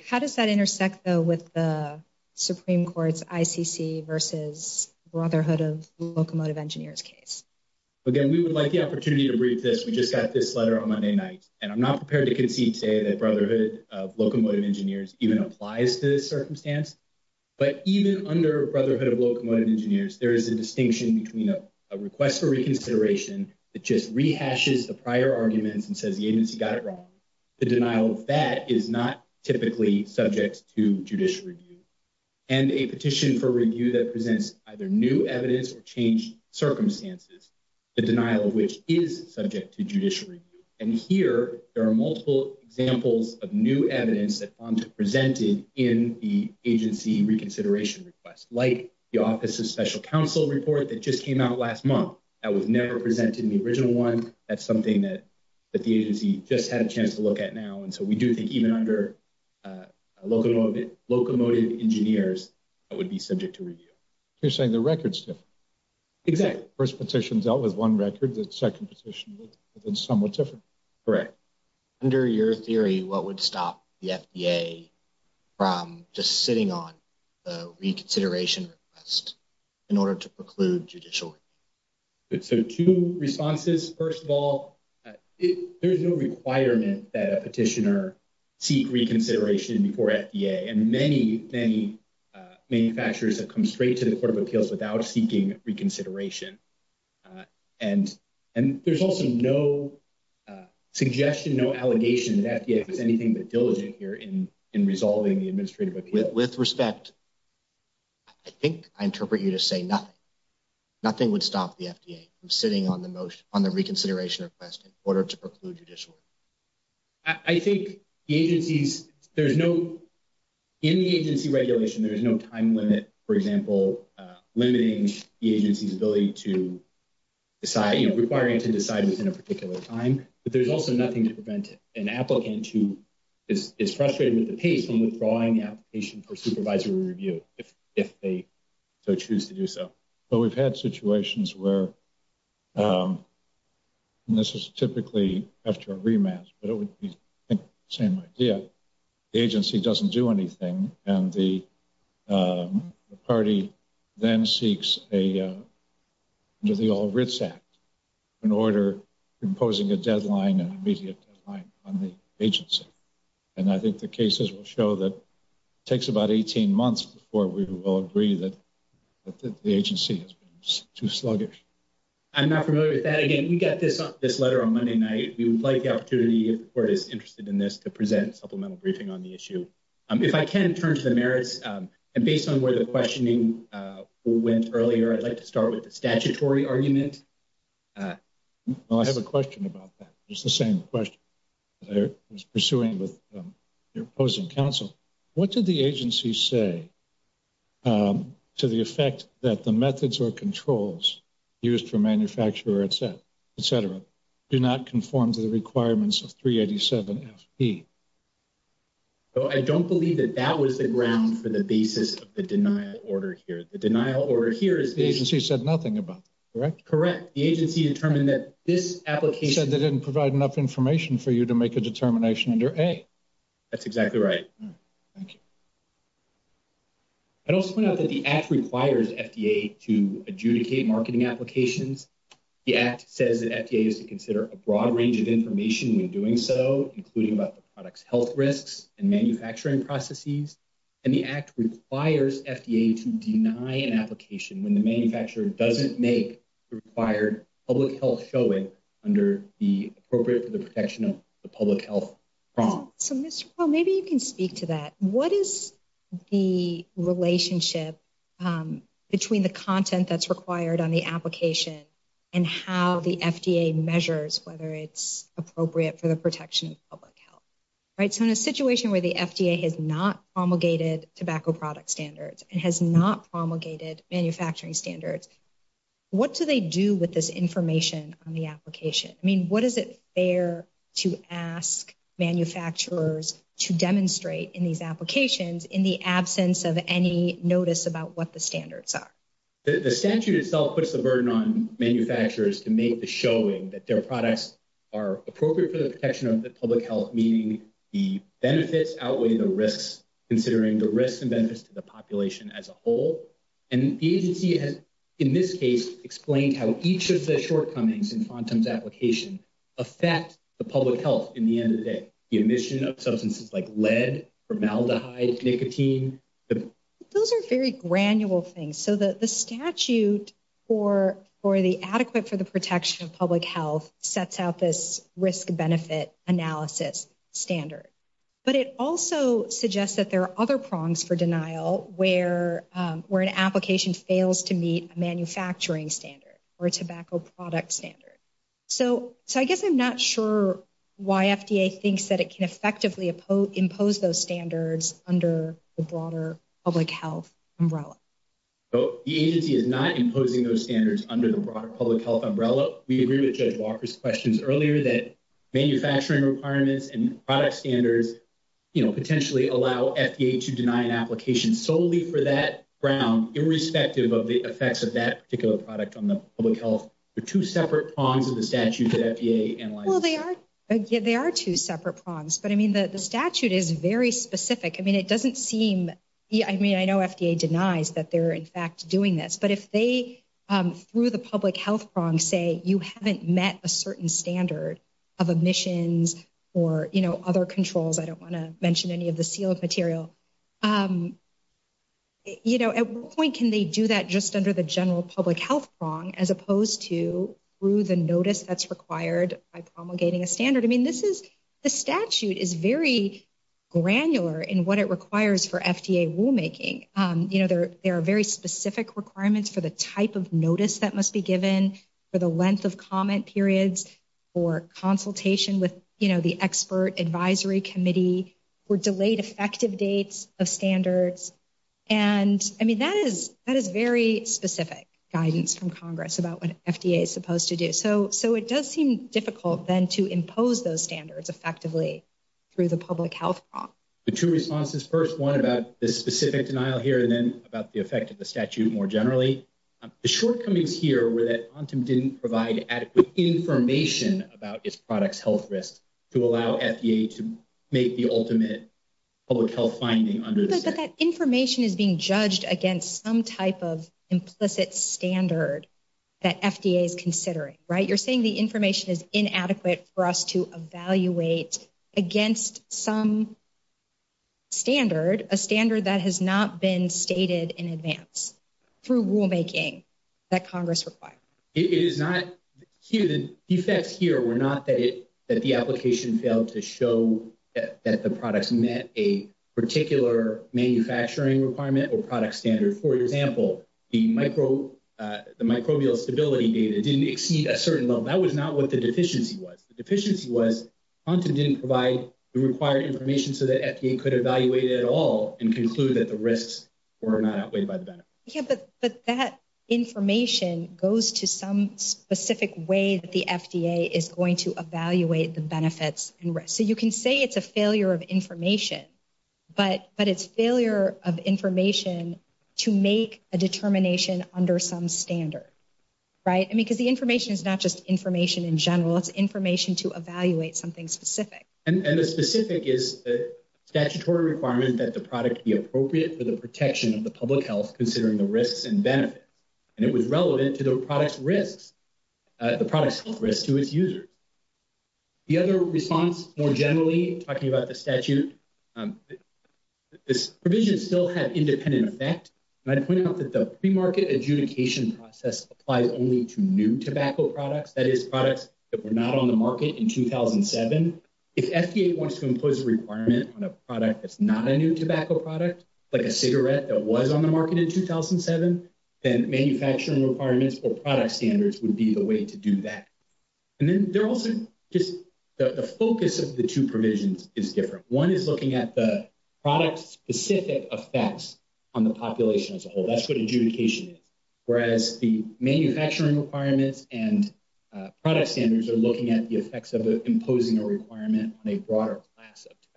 How does that intersect though with the Supreme Court's ICC versus Brotherhood of Locomotive Engineers case? Again, we would like the opportunity to brief this. We just got this that Brotherhood of Locomotive Engineers even applies to this circumstance. But even under Brotherhood of Locomotive Engineers, there is a distinction between a request for reconsideration that just rehashes the prior arguments and says the agency got it wrong. The denial of that is not typically subject to judicial review. And a petition for review that presents either new evidence or changed circumstances, the denial of which is subject to judicial review. And here, there are multiple examples of new evidence that FONTA presented in the agency reconsideration request, like the Office of Special Counsel report that just came out last month. That was never presented in the original one. That's something that the agency just had a chance to look at now. And so we do think even under Locomotive Engineers, that would be subject to review. You're saying the records differ. Exactly. The first petition dealt with one record. The second petition was somewhat different. Correct. Under your theory, what would stop the FDA from just sitting on the reconsideration request in order to preclude judicial review? So two responses. First of all, there is no requirement that a petitioner seek reconsideration before FDA. And many, many manufacturers have come straight to the Court of Appeals without seeking reconsideration. And there's also no suggestion, no allegation that FDA was anything but diligent here in resolving the administrative appeal. With respect, I think I interpret you to say nothing. Nothing would stop the FDA from sitting on the reconsideration request in order to preclude judicial review. I think the agencies, there's no, in the agency regulation, there's no time limit, for example, limiting the agency's ability to decide, requiring it to decide within a particular time. But there's also nothing to prevent an applicant who is frustrated with the pace and withdrawing the application for supervisory review if they so choose to do so. But we've had situations where, and this is typically after a rematch, but it would be the same idea, the agency doesn't do anything and the party then seeks a, under the All Writs Act, an order imposing a deadline, an immediate deadline on the agency. And I think the cases will show that it takes about 18 months before we will agree that the agency has been too sluggish. I'm not familiar with that. Again, we got this letter on Monday night. We would like the opportunity, if the court is interested in this, to present a supplemental briefing on the issue. If I can turn to the merits, and based on where the questioning went earlier, I'd like to start with the statutory argument. I have a question about that. It's the same question I was pursuing with your opposing counsel. What did the agency say to the effect that the methods or controls used for manufacturer etc. etc. do not conform to the requirements of 387 FE? I don't believe that that was the ground for the basis of the denial order here. The denial order here is... The agency said nothing about that, correct? Correct. The agency determined that this application... Said they didn't provide enough information for you to make a determination under A. That's exactly right. Thank you. I'd also point out that the Act requires FDA to adjudicate marketing applications. The Act says that FDA is to consider a broad range of information when doing so, including about the product's health risks and manufacturing processes. And the Act requires FDA to deny an application when the manufacturer doesn't make the required public health showing under the appropriate for the protection of the public health process. So Mr. Powell, maybe you can speak to that. What is the relationship between the content that's required on the application and how the FDA measures whether it's appropriate for the protection of public health, right? So in a situation where the FDA has not promulgated tobacco product standards and has not promulgated manufacturing standards, what do they do with this information on the application? I mean, what is it fair to ask manufacturers to demonstrate in these applications in the absence of any notice about what the standards are? The statute itself puts the burden on manufacturers to make the showing that their products are appropriate for the protection of the public health, meaning the benefits outweigh considering the risks and benefits to the population as a whole. And the agency has, in this case, explained how each of the shortcomings in FONTM's application affect the public health in the end of the day. The emission of substances like lead, formaldehyde, nicotine. Those are very granular things. So the statute for the adequate for the suggests that there are other prongs for denial where an application fails to meet a manufacturing standard or a tobacco product standard. So I guess I'm not sure why FDA thinks that it can effectively impose those standards under the broader public health umbrella. The agency is not imposing those standards under the broader public health umbrella. We agree with Judge Walker's questions earlier that manufacturing requirements and product standards, you know, allow FDA to deny an application solely for that ground, irrespective of the effects of that particular product on the public health. They're two separate prongs of the statute that FDA analyzes. Well, they are. They are two separate prongs. But I mean, the statute is very specific. I mean, it doesn't seem. I mean, I know FDA denies that they're, in fact, doing this. But if they, through the public health prong, say you haven't met a certain standard of emissions or other controls, I don't want to mention any of the sealed material. You know, at what point can they do that just under the general public health prong as opposed to through the notice that's required by promulgating a standard? I mean, this is the statute is very granular in what it requires for FDA rulemaking. You know, there are very specific requirements for the type of notice that must be given for the length of comment periods or consultation with the expert advisory committee or delayed effective dates of standards. And I mean, that is that is very specific guidance from Congress about what FDA is supposed to do. So so it does seem difficult then to impose those standards effectively through the public health prong. The two responses, first one about this specific denial here and then about the effect of the statute more generally. The shortcomings here were that quantum didn't provide adequate information about its products, health risks to allow FDA to make the ultimate public health finding under that information is being judged against some type of implicit standard that FDA is considering. Right. You're saying the information is inadequate for us to evaluate against some standard, a standard that has not been stated in advance through rulemaking that Congress required. It is not here. The defects here were not that it that the application failed to show that the products met a particular manufacturing requirement or product standard. For example, the micro the microbial stability data didn't exceed a certain level. That was not what the deficiency was. The deficiency was quantum didn't provide the required information so that FDA could evaluate it all and conclude that the risks were not outweighed by the benefit. But that information goes to some specific way that the FDA is going to evaluate the benefits and risks. So you can say it's a failure of information, but but it's failure of information to make a determination under some standard. Right. I mean, because the information is not just information in general, it's information to evaluate something specific. And the specific is the statutory requirement that the product be appropriate for the protection of the public health, considering the risks and benefits. And it was relevant to the product's risks, the product's risk to its users. The other response, more generally talking about the statute, this provision still had independent effect. And I'd point out that the pre-market adjudication process applies only to new tobacco products, that is products that were not on the market in 2007. If FDA wants to impose a requirement on a product that's not a new tobacco product, like a cigarette that was on the market in 2007, then manufacturing requirements or product standards would be the way to do that. And then they're also just the focus of the two provisions is different. One is looking at the product specific effects on the population as a whole. That's what adjudication is, whereas the manufacturing requirements and product standards are looking at the effects of imposing a requirement on a broader class of tobacco.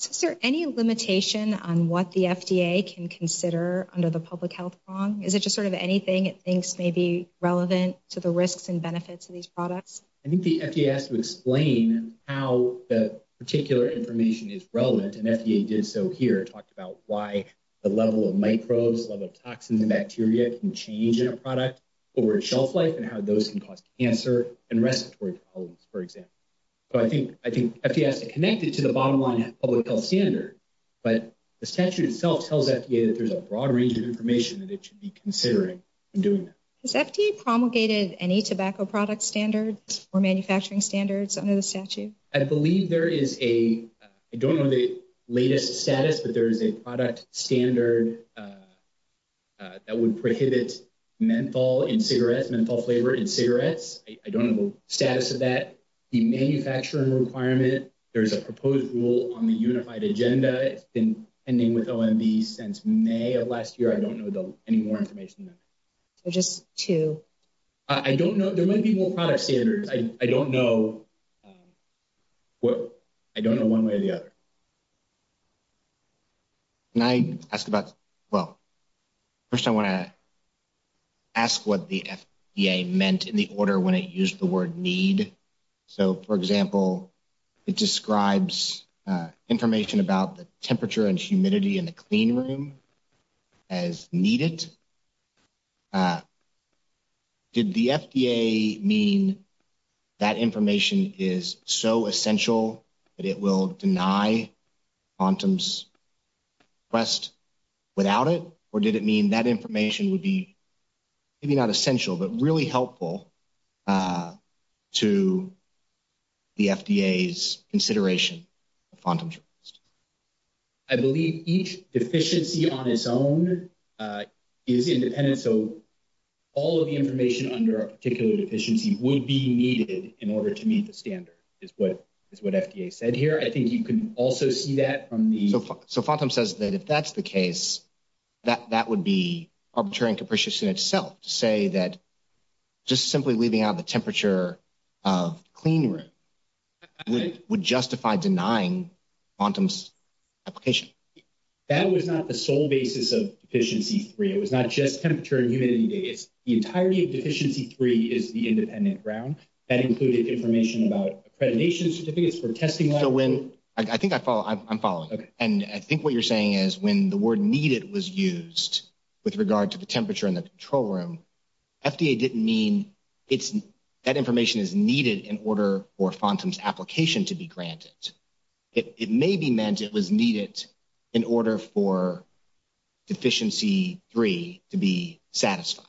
Is there any limitation on what the FDA can consider under the public health prong? Is it just sort of anything it thinks may be relevant to the risks and benefits of these products? I think the FDA has to explain how the particular information is relevant. And FDA did so here, talked about why the level of microbes, level of toxins and bacteria can change in a product over shelf life and how those can cause cancer and respiratory problems, for example. I think FDA has to connect it to the bottom line public health standard, but the statute itself tells FDA that there's a broad range of information that it should be considering in doing that. Has FDA promulgated any tobacco product standards or manufacturing standards under the statute? I believe there is a, I don't know the latest status, but there is a product standard that would prohibit menthol in cigarettes, menthol flavor in cigarettes. I don't know the manufacturing requirement. There's a proposed rule on the unified agenda. It's been ending with OMB since May of last year. I don't know any more information than that. So just two. I don't know. There might be more product standards. I don't know. I don't know one way or the other. Can I ask about, well, first I want to ask what the FDA meant in the order when it used the word need. So for example, it describes information about the temperature and humidity in the clean room as needed. Did the FDA mean that information is so essential that it will deny quantum's request without it? Or did it mean that information would be, maybe not essential, but really helpful to the FDA's consideration of quantum? I believe each deficiency on its own is independent. So all of the information under a particular deficiency would be needed in order to meet the standard is what is what FDA said here. I think you can also see that from the. So quantum says that if that's the case, that that would be arbitrary and capricious in itself to say that. Just simply leaving out the temperature of clean room. Would justify denying quantum's application. That was not the sole basis of deficiency three. It was not just temperature and humidity. It's the entirety of deficiency. Three is the independent ground that included information about accreditation certificates for testing. I think I follow. I'm following. And I think what you're saying is when the word needed was used with regard to the temperature in the control room, FDA didn't mean it's that information is needed in order for quantum's application to be granted. It may be meant it was needed in order for deficiency three to be satisfied.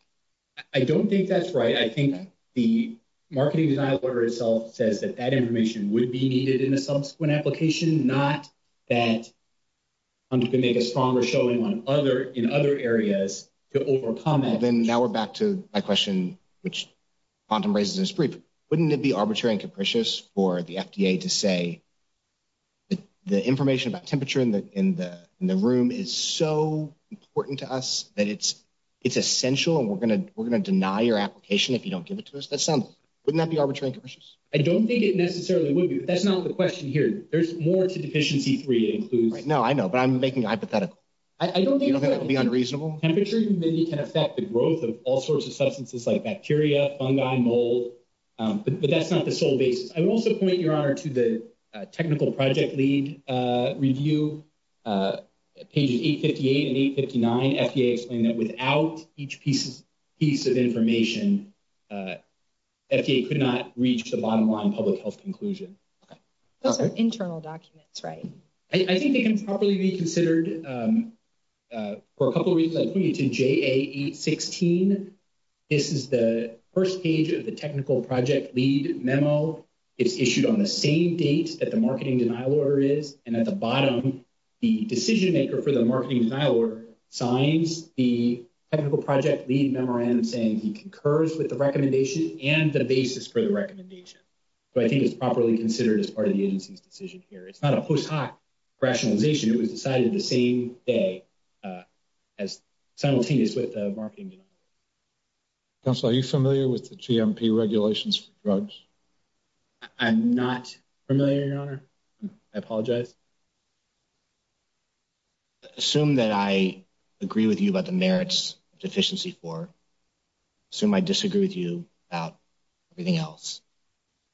I don't think that's right. I think the marketing order itself says that that information would be needed in a subsequent application, not that. I'm going to make a stronger showing on other in other areas to overcome that. And now we're back to my question, which quantum raises is brief. Wouldn't it be arbitrary and capricious for the FDA to say? The information about temperature in the in the in the room is so important to us that it's it's essential and we're going to we're going to deny your application if you don't give some. Wouldn't that be arbitrary and capricious? I don't think it necessarily would be. That's not the question here. There's more to deficiency three includes. No, I know. But I'm making a hypothetical. I don't think it would be unreasonable. Temperature can affect the growth of all sorts of substances like bacteria, fungi, mold. But that's not the sole basis. I would also point your honor to the technical project lead review pages 858 and 859. FDA explained that without each piece of piece of information, FDA could not reach the bottom line public health conclusion. Those are internal documents, right? I think they can properly be considered for a couple of reasons. I pointed to J816. This is the first page of the technical project lead memo. It's issued on the same date that the marketing denial order is. And at the technical project lead memorandum saying he concurs with the recommendation and the basis for the recommendation. So I think it's properly considered as part of the agency's decision here. It's not a post hoc rationalization. It was decided the same day as simultaneous with the marketing. Council, are you familiar with the GMP regulations for drugs? I'm not familiar, your honor. I apologize. Assume that I agree with you about the merits of deficiency four. Assume I disagree with you about everything else.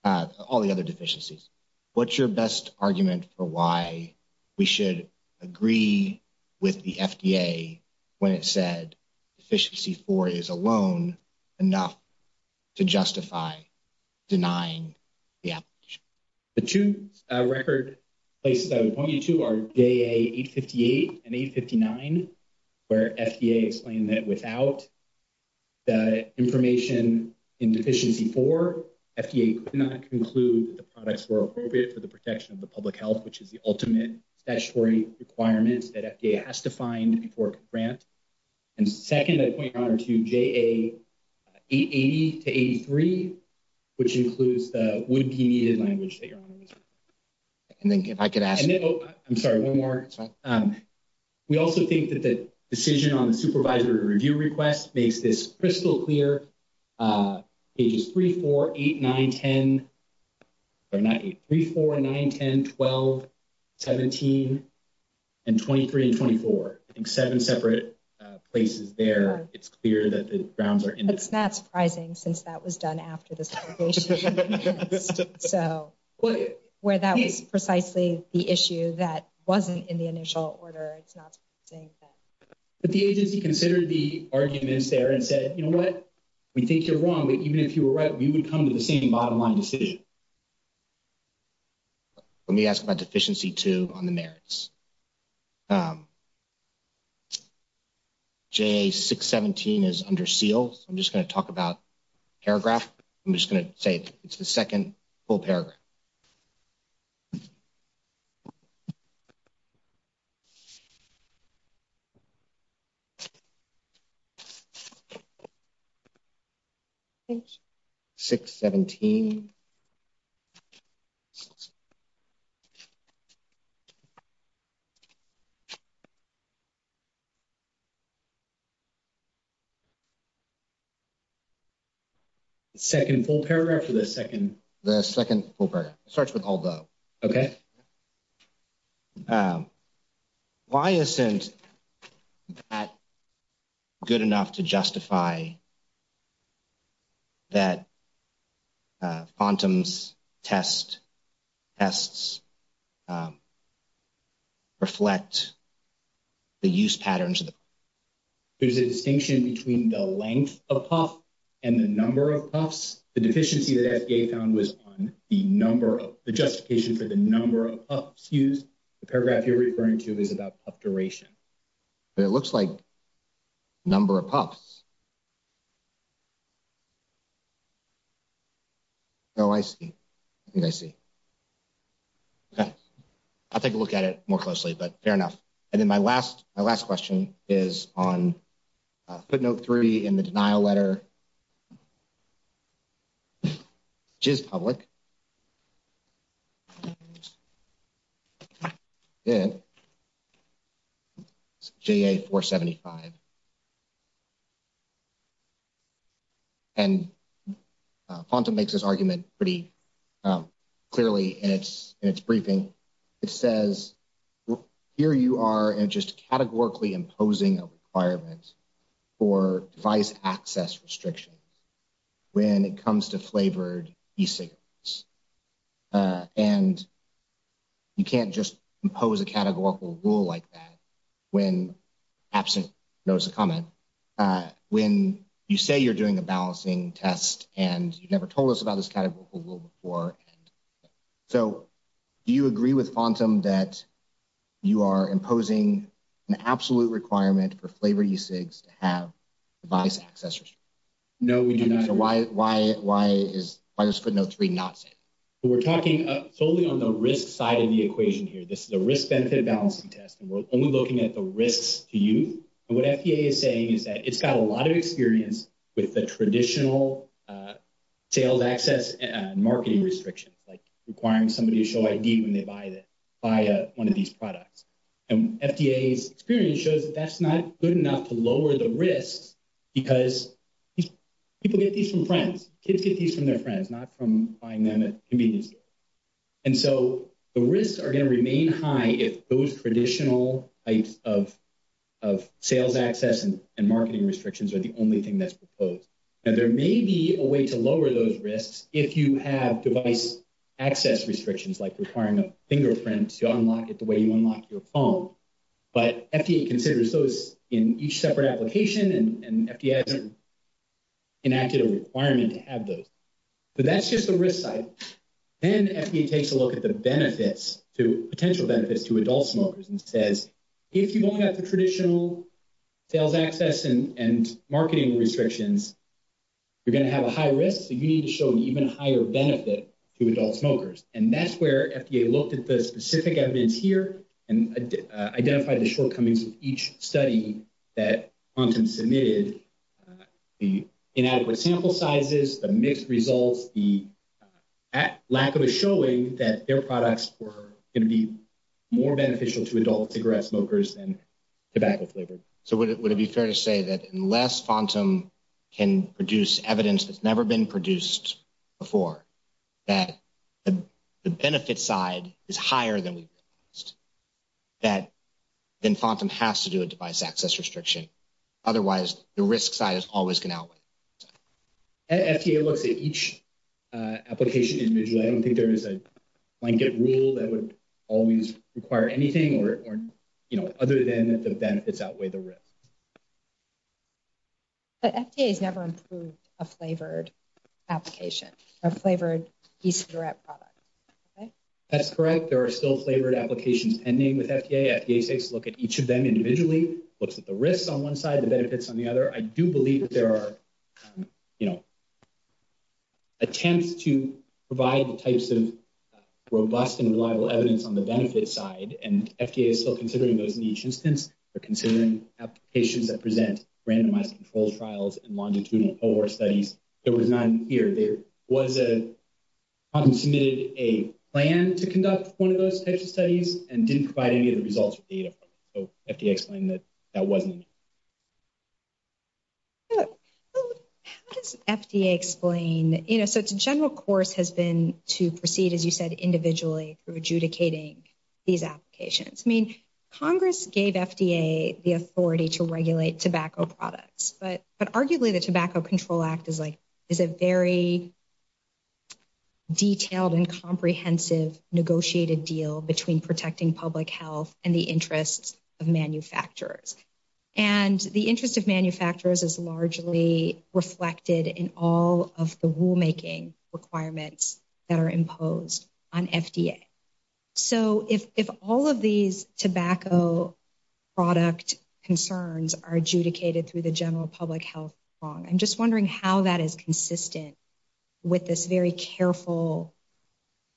All the other deficiencies. What's your best argument for why we should agree with the FDA when it said deficiency four is alone enough to justify denying the application? The two record places I would point you to are J858 and 859, where FDA explained that without the information in deficiency four, FDA could not conclude that the products were appropriate for the protection of the public health, which is the ultimate statutory requirements that FDA has to do. I'm sorry, one more. We also think that the decision on the supervisory review request makes this crystal clear. Pages three, four, eight, nine, 10, or not eight, three, four, nine, 10, 12, 17, and 23 and 24. I think seven separate places there. It's clear that the grounds It's not surprising since that was done after this. So where that was precisely the issue that wasn't in the initial order, it's not saying that. But the agency considered the arguments there and said, you know what, we think you're wrong, but even if you were right, we would come to the same bottom line decision. Let me ask about deficiency two on the merits. J617 is under seal. I'm just going to talk about paragraph. I'm just going to say it's the second full paragraph. J617. Second, full paragraph for the second, the second starts with all the. Okay, why isn't that good enough to justify that? Fontans test tests reflect the use patterns of the. There's a distinction between the length of puff and the number of puffs. The deficiency that I found was on the number of the justification for the number of use the paragraph you're referring to is about duration. It looks like number of puffs. Oh, I see. I see. Okay, I'll take a look at it more closely, but fair enough. And then my last, my last question is on. Put note 3 in the denial letter, just public. Yeah, 475. And makes this argument pretty. Clearly, and it's in its briefing, it says. Here you are, and just categorically imposing a requirement. For device access restriction when it comes to flavored. And you can't just impose a categorical rule like that. When absent knows the comment, when you say you're doing a balancing test, and you never told us about this category before. So, do you agree with quantum that. You are imposing an absolute requirement for flavor to have. No, we do not. So why why why is why does put note 3 not say we're talking solely on the risk side of the equation here? This is a risk benefit balancing test. And we're only looking at the risks to you and what FDA is saying is that it's got a lot of experience with the traditional sales access and marketing restrictions, like, requiring somebody to show ID when they buy it by 1 of these products. And FDA's experience shows that that's not good enough to lower the risks. Because people get these from friends kids get these from their friends, not from buying them at convenience. And so the risks are going to remain high if those traditional types of. Of sales access and marketing restrictions are the only thing that's proposed and there may be a way to lower those risks. If you have device access restrictions, like, requiring a fingerprint to unlock it the way you unlock your phone. But FDA considers those in each separate application and. Enacted a requirement to have those, but that's just the risk side. And FDA takes a look at the benefits to potential benefits to adult smokers and says, if you don't have the traditional. Sales access and and marketing restrictions. You're going to have a high risk, so you need to show an even higher benefit to adult smokers and that's where FDA looked at the specific evidence here and identify the shortcomings of each study that quantum submitted. The inadequate sample sizes, the mixed results, the. At lack of a showing that their products were going to be. More beneficial to adult cigarette smokers and tobacco flavored. So, would it would it be fair to say that unless quantum. Can produce evidence that's never been produced. Before that, the benefit side is higher than we. That then quantum has to do a device access restriction. Otherwise, the risk side is always going out with FDA looks at each. Application individually, I don't think there is a blanket rule that would. Always require anything or, you know, other than the benefits outweigh the risk. But FDA has never improved a flavored. Application a flavored product. That's correct there are still flavored applications and name with FDA look at each of them individually looks at the risks on 1 side of the benefits on the other. I do believe there are. You know, attempts to provide the types of. Robust and reliable evidence on the benefit side and FDA is still considering those in each instance. They're considering applications that present randomized control trials and longitudinal studies. There was none here there was a submitted a plan to conduct 1 of those types of studies and didn't provide any of the results of data. So explain that. That wasn't FDA explain, you know, so it's a general course has been to proceed as you said, individually through adjudicating. These applications, I mean, Congress gave FDA the authority to regulate tobacco products, but arguably the tobacco control act is like. Is it very detailed and comprehensive negotiated deal between protecting public health and the interests. Of manufacturers, and the interest of manufacturers is largely reflected in all of the rulemaking requirements that are imposed on FDA. So, if all of these tobacco. Product concerns are adjudicated through the general public health. I'm just wondering how that is consistent with this very careful.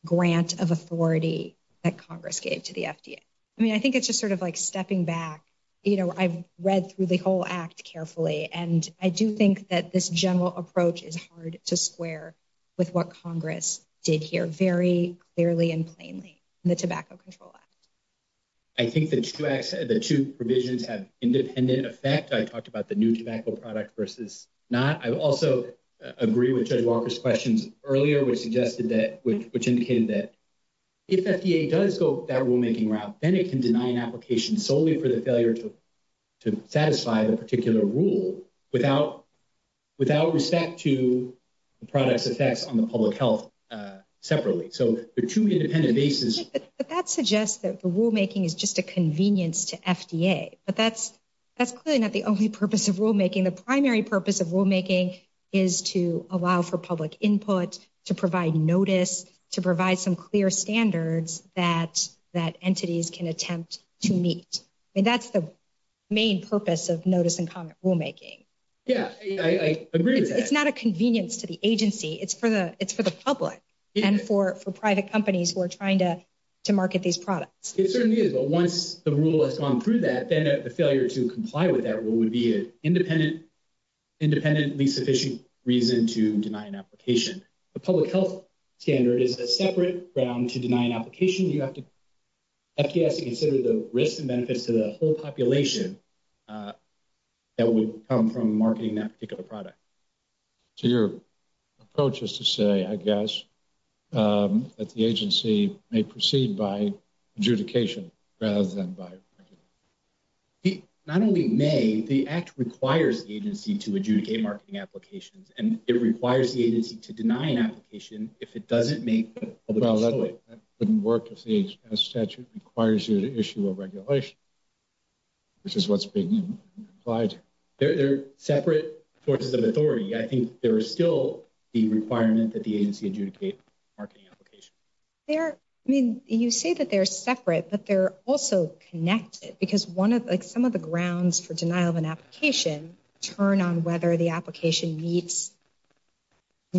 Grant of authority that Congress gave to the FDA. I mean, I think it's just sort of like, stepping back, you know, I've read through the whole act carefully and I do think that this general approach is hard to square. With what Congress did here very clearly and plainly the tobacco control. I think that the 2 provisions have independent effect. I talked about the new tobacco product versus. Not I also agree with judge Walker's questions earlier, which suggested that, which indicated that. If FDA does go that rulemaking route, then it can deny an application solely for the failure to. To satisfy the particular rule without. Without respect to the products effects on the public health separately. So the 2 independent basis, but that suggests that the rulemaking is just a convenience to FDA, but that's. That's clearly not the only purpose of rulemaking. The primary purpose of rulemaking is to allow for public input to provide notice to provide some clear standards that that entities can attempt to meet. And that's the main purpose of notice and comment rulemaking. Yeah, I agree. It's not a convenience to the agency. It's for the, it's for the public and for, for private companies who are trying to. To market these products, it certainly is, but once the rule has gone through that, then the failure to comply with that, what would be an independent. Independently sufficient reason to deny an application. The public health standard is a separate ground to deny an application. You have to. Consider the risks and benefits to the whole population. That would come from marketing that particular product. So, your approach is to say, I guess. That the agency may proceed by adjudication rather than by. Not only may the act requires the agency to adjudicate marketing applications, and it requires the agency to deny an application. If it doesn't make it wouldn't work if the statute requires you to issue a regulation. This is what's being applied. They're separate forces of authority. I think there are still the requirement that the agency adjudicate. Marketing application there, I mean, you say that they're separate, but they're also connected because 1 of, like, some of the grounds for denial of an application turn on whether the application meets.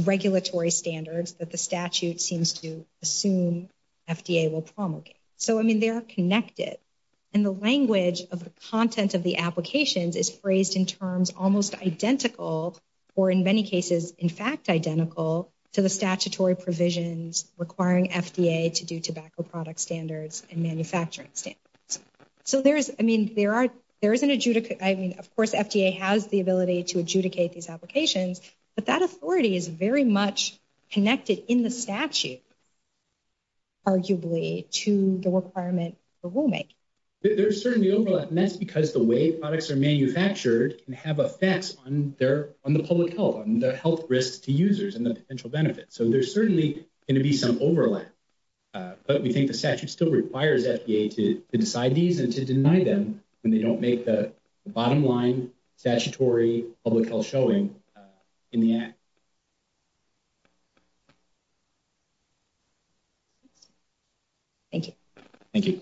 Regulatory standards that the statute seems to assume. FDA will promulgate, so, I mean, they are connected. And the language of the content of the applications is phrased in terms almost identical. Or in many cases, in fact, identical to the statutory provisions requiring FDA to do tobacco product standards and manufacturing standards. So, there is, I mean, there are there is an adjudicate. I mean, of course, FDA has the ability to adjudicate these applications, but that authority is very much connected in the statute. Arguably to the requirement for will make. There's certainly overlap and that's because the way products are manufactured and have effects on their on the public health and the health risks to users and the potential benefits. So there's certainly going to be some overlap. But we think the statute still requires FDA to decide these and to deny them when they don't make the bottom line statutory public health showing in the act. Thank you. Thank you.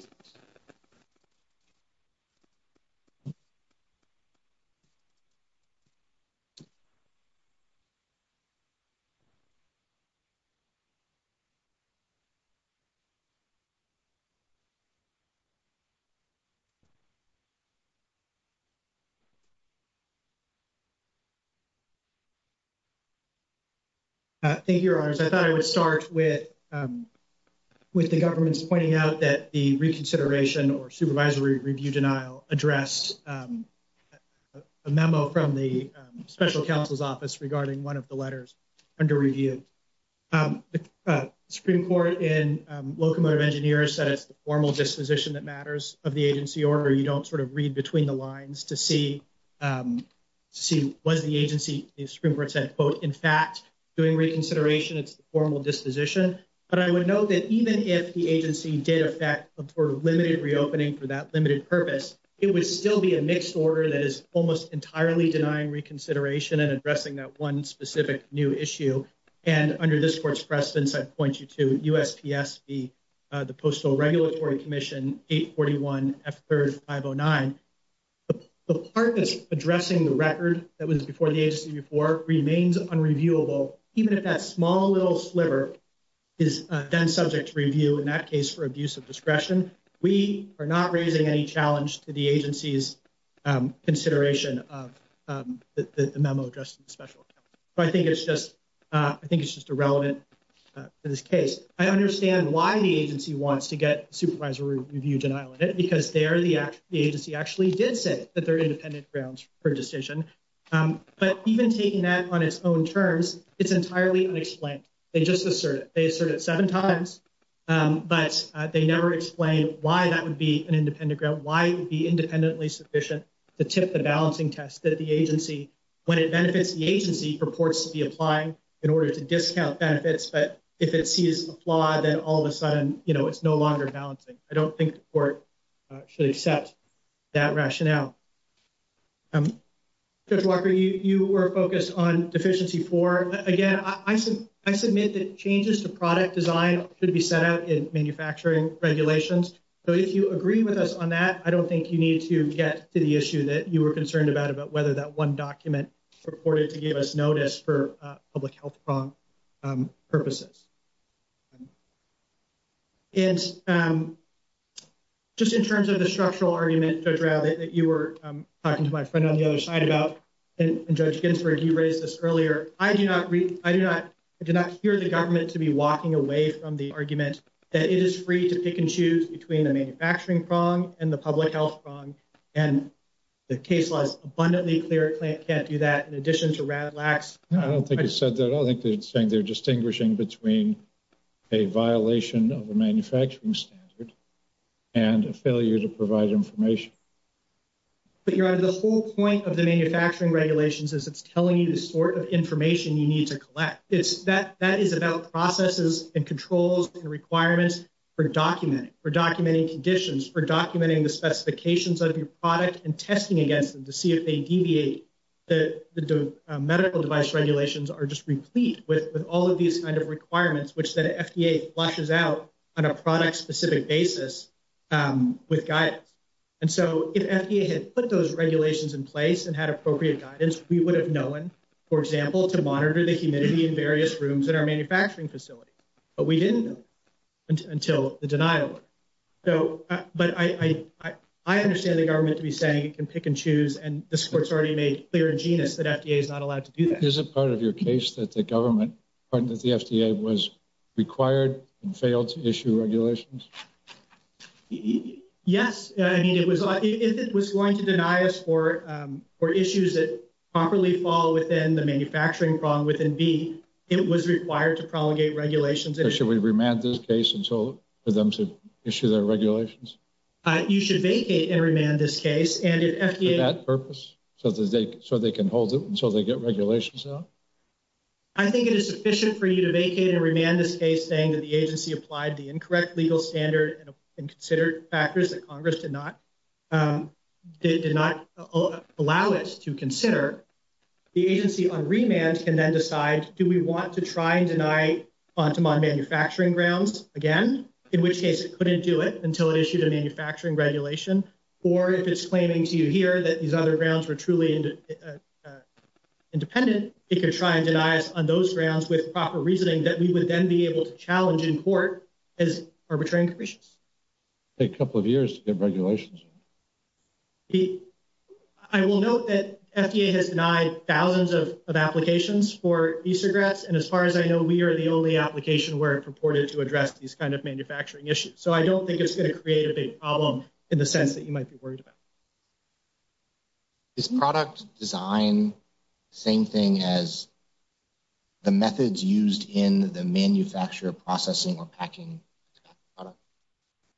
Thank you, your honors. I thought I would start with with the government's pointing out that the reconsideration or supervisory review denial address a memo from the special counsel's office regarding one of the letters under review. Supreme court in locomotive engineer said it's the formal disposition that matters of the agency order. You don't sort of read between the lines to see. See, was the agency in fact, doing reconsideration? It's the formal disposition, but I would know that even if the agency did affect for limited reopening for that limited purpose, it would still be a mixed order. That is almost entirely denying reconsideration and addressing that 1 specific new issue. And under this court's presence, I'd point you to the postal regulatory commission 841 after 509. The part that's addressing the record that was before the agency before remains on reviewable, even if that small little sliver. Is then subject to review in that case for abuse of discretion. We are not raising any challenge to the agency's consideration of the memo just special. I think it's just, I think it's just irrelevant in this case. I understand why the agency wants to get supervisory review denial in it because they are the, the agency actually did say that they're independent grounds for decision. But even taking that on its own terms, it's entirely unexplained. They just asserted they asserted 7 times, but they never explained why that would be an independent ground. Why be independently sufficient to tip the balancing test that the agency when it benefits the agency purports to be applying in order to discount benefits. But if it sees a flaw, then all of a sudden, you know, it's no longer balancing. I don't think the court should accept that rationale. Judge Walker, you were focused on deficiency for again, I said, I submit that changes to product design should be set out in manufacturing regulations. So, if you agree with us on that, I don't think you need to get to the issue that you were concerned about, about whether that 1 document reported to give us notice for public health purposes. And just in terms of the structural argument that you were talking to my friend on the other side about. And judge Ginsburg, you raised this earlier. I do not read. I do not do not hear the government to be walking away from the argument that it is free to pick and choose between the manufacturing prong and the public health. And the case was abundantly clear. It can't do that. In addition to that, I don't think you said that. I think they're saying they're distinguishing between a violation of the manufacturing standard. And a failure to provide information, but you're out of the whole point of the manufacturing regulations as it's telling you the sort of information you need to collect. It's that that is about processes and controls and requirements. For documenting for documenting conditions for documenting the specifications of your product and testing against them to see if they deviate. The medical device regulations are just replete with all of these kind of requirements, which the FDA flushes out on a product specific basis. Um, with guys, and so if FDA had put those regulations in place and had appropriate guidance, we would have known, for example, to monitor the humidity in various rooms in our manufacturing facility. But we didn't until the denial. So, but I, I, I understand the government to be saying, you can pick and choose and the sports already made clear genius that FDA is not allowed to do that. Is it part of your case that the government that the FDA was. Required and failed to issue regulations. Yes, I mean, it was, it was going to deny us for, um, or issues that properly fall within the manufacturing problem within be, it was required to prolongate regulations. And should we remand this case? And so for them to issue their regulations. You should vacate and remand this case and that purpose. So, so they can hold it and so they get regulations. I think it is sufficient for you to vacate and remand this case saying that the agency applied the incorrect legal standard and considered factors that Congress did not. Did not allow it to consider. The agency on remand can then decide, do we want to try and deny on manufacturing grounds again? In which case it couldn't do it until it issued a manufacturing regulation. Or if it's claiming to you here that these other grounds were truly independent, it could try and deny us on those grounds with proper reasoning that we would then be able to challenge in court. As arbitration take a couple of years to get regulations. I will note that FDA has denied thousands of applications for and as far as I know, we are the only application where it purported to address these kind of manufacturing issues. So I don't think it's going to create a big problem in the sense that you might be worried about. Is product design. Same thing as the methods used in the manufacturer processing or packing.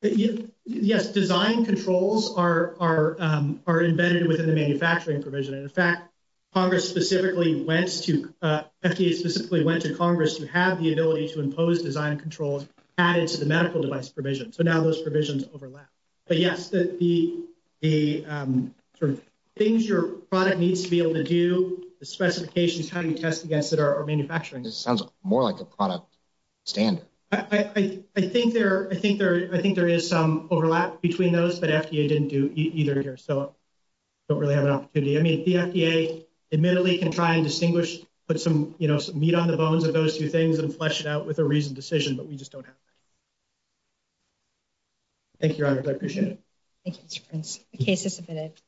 Yes, design controls are are are embedded within the manufacturing provision. In fact. Congress specifically went to FDA specifically went to Congress to have the ability to impose design controls added to the medical device provision. So now those provisions overlap. But, yes, the, the sort of things your product needs to be able to do the specifications. How do you test against that are manufacturing? It sounds more like a product. Stan, I, I, I think there, I think there, I think there is some overlap between those, but FDA didn't do either here. So. Don't really have an opportunity. I mean, the FDA admittedly can try and distinguish, but some, you know, some meat on the bones of those 2 things and flesh it out with a reason decision, but we just don't have. Thank you. I appreciate it. The case is submitted.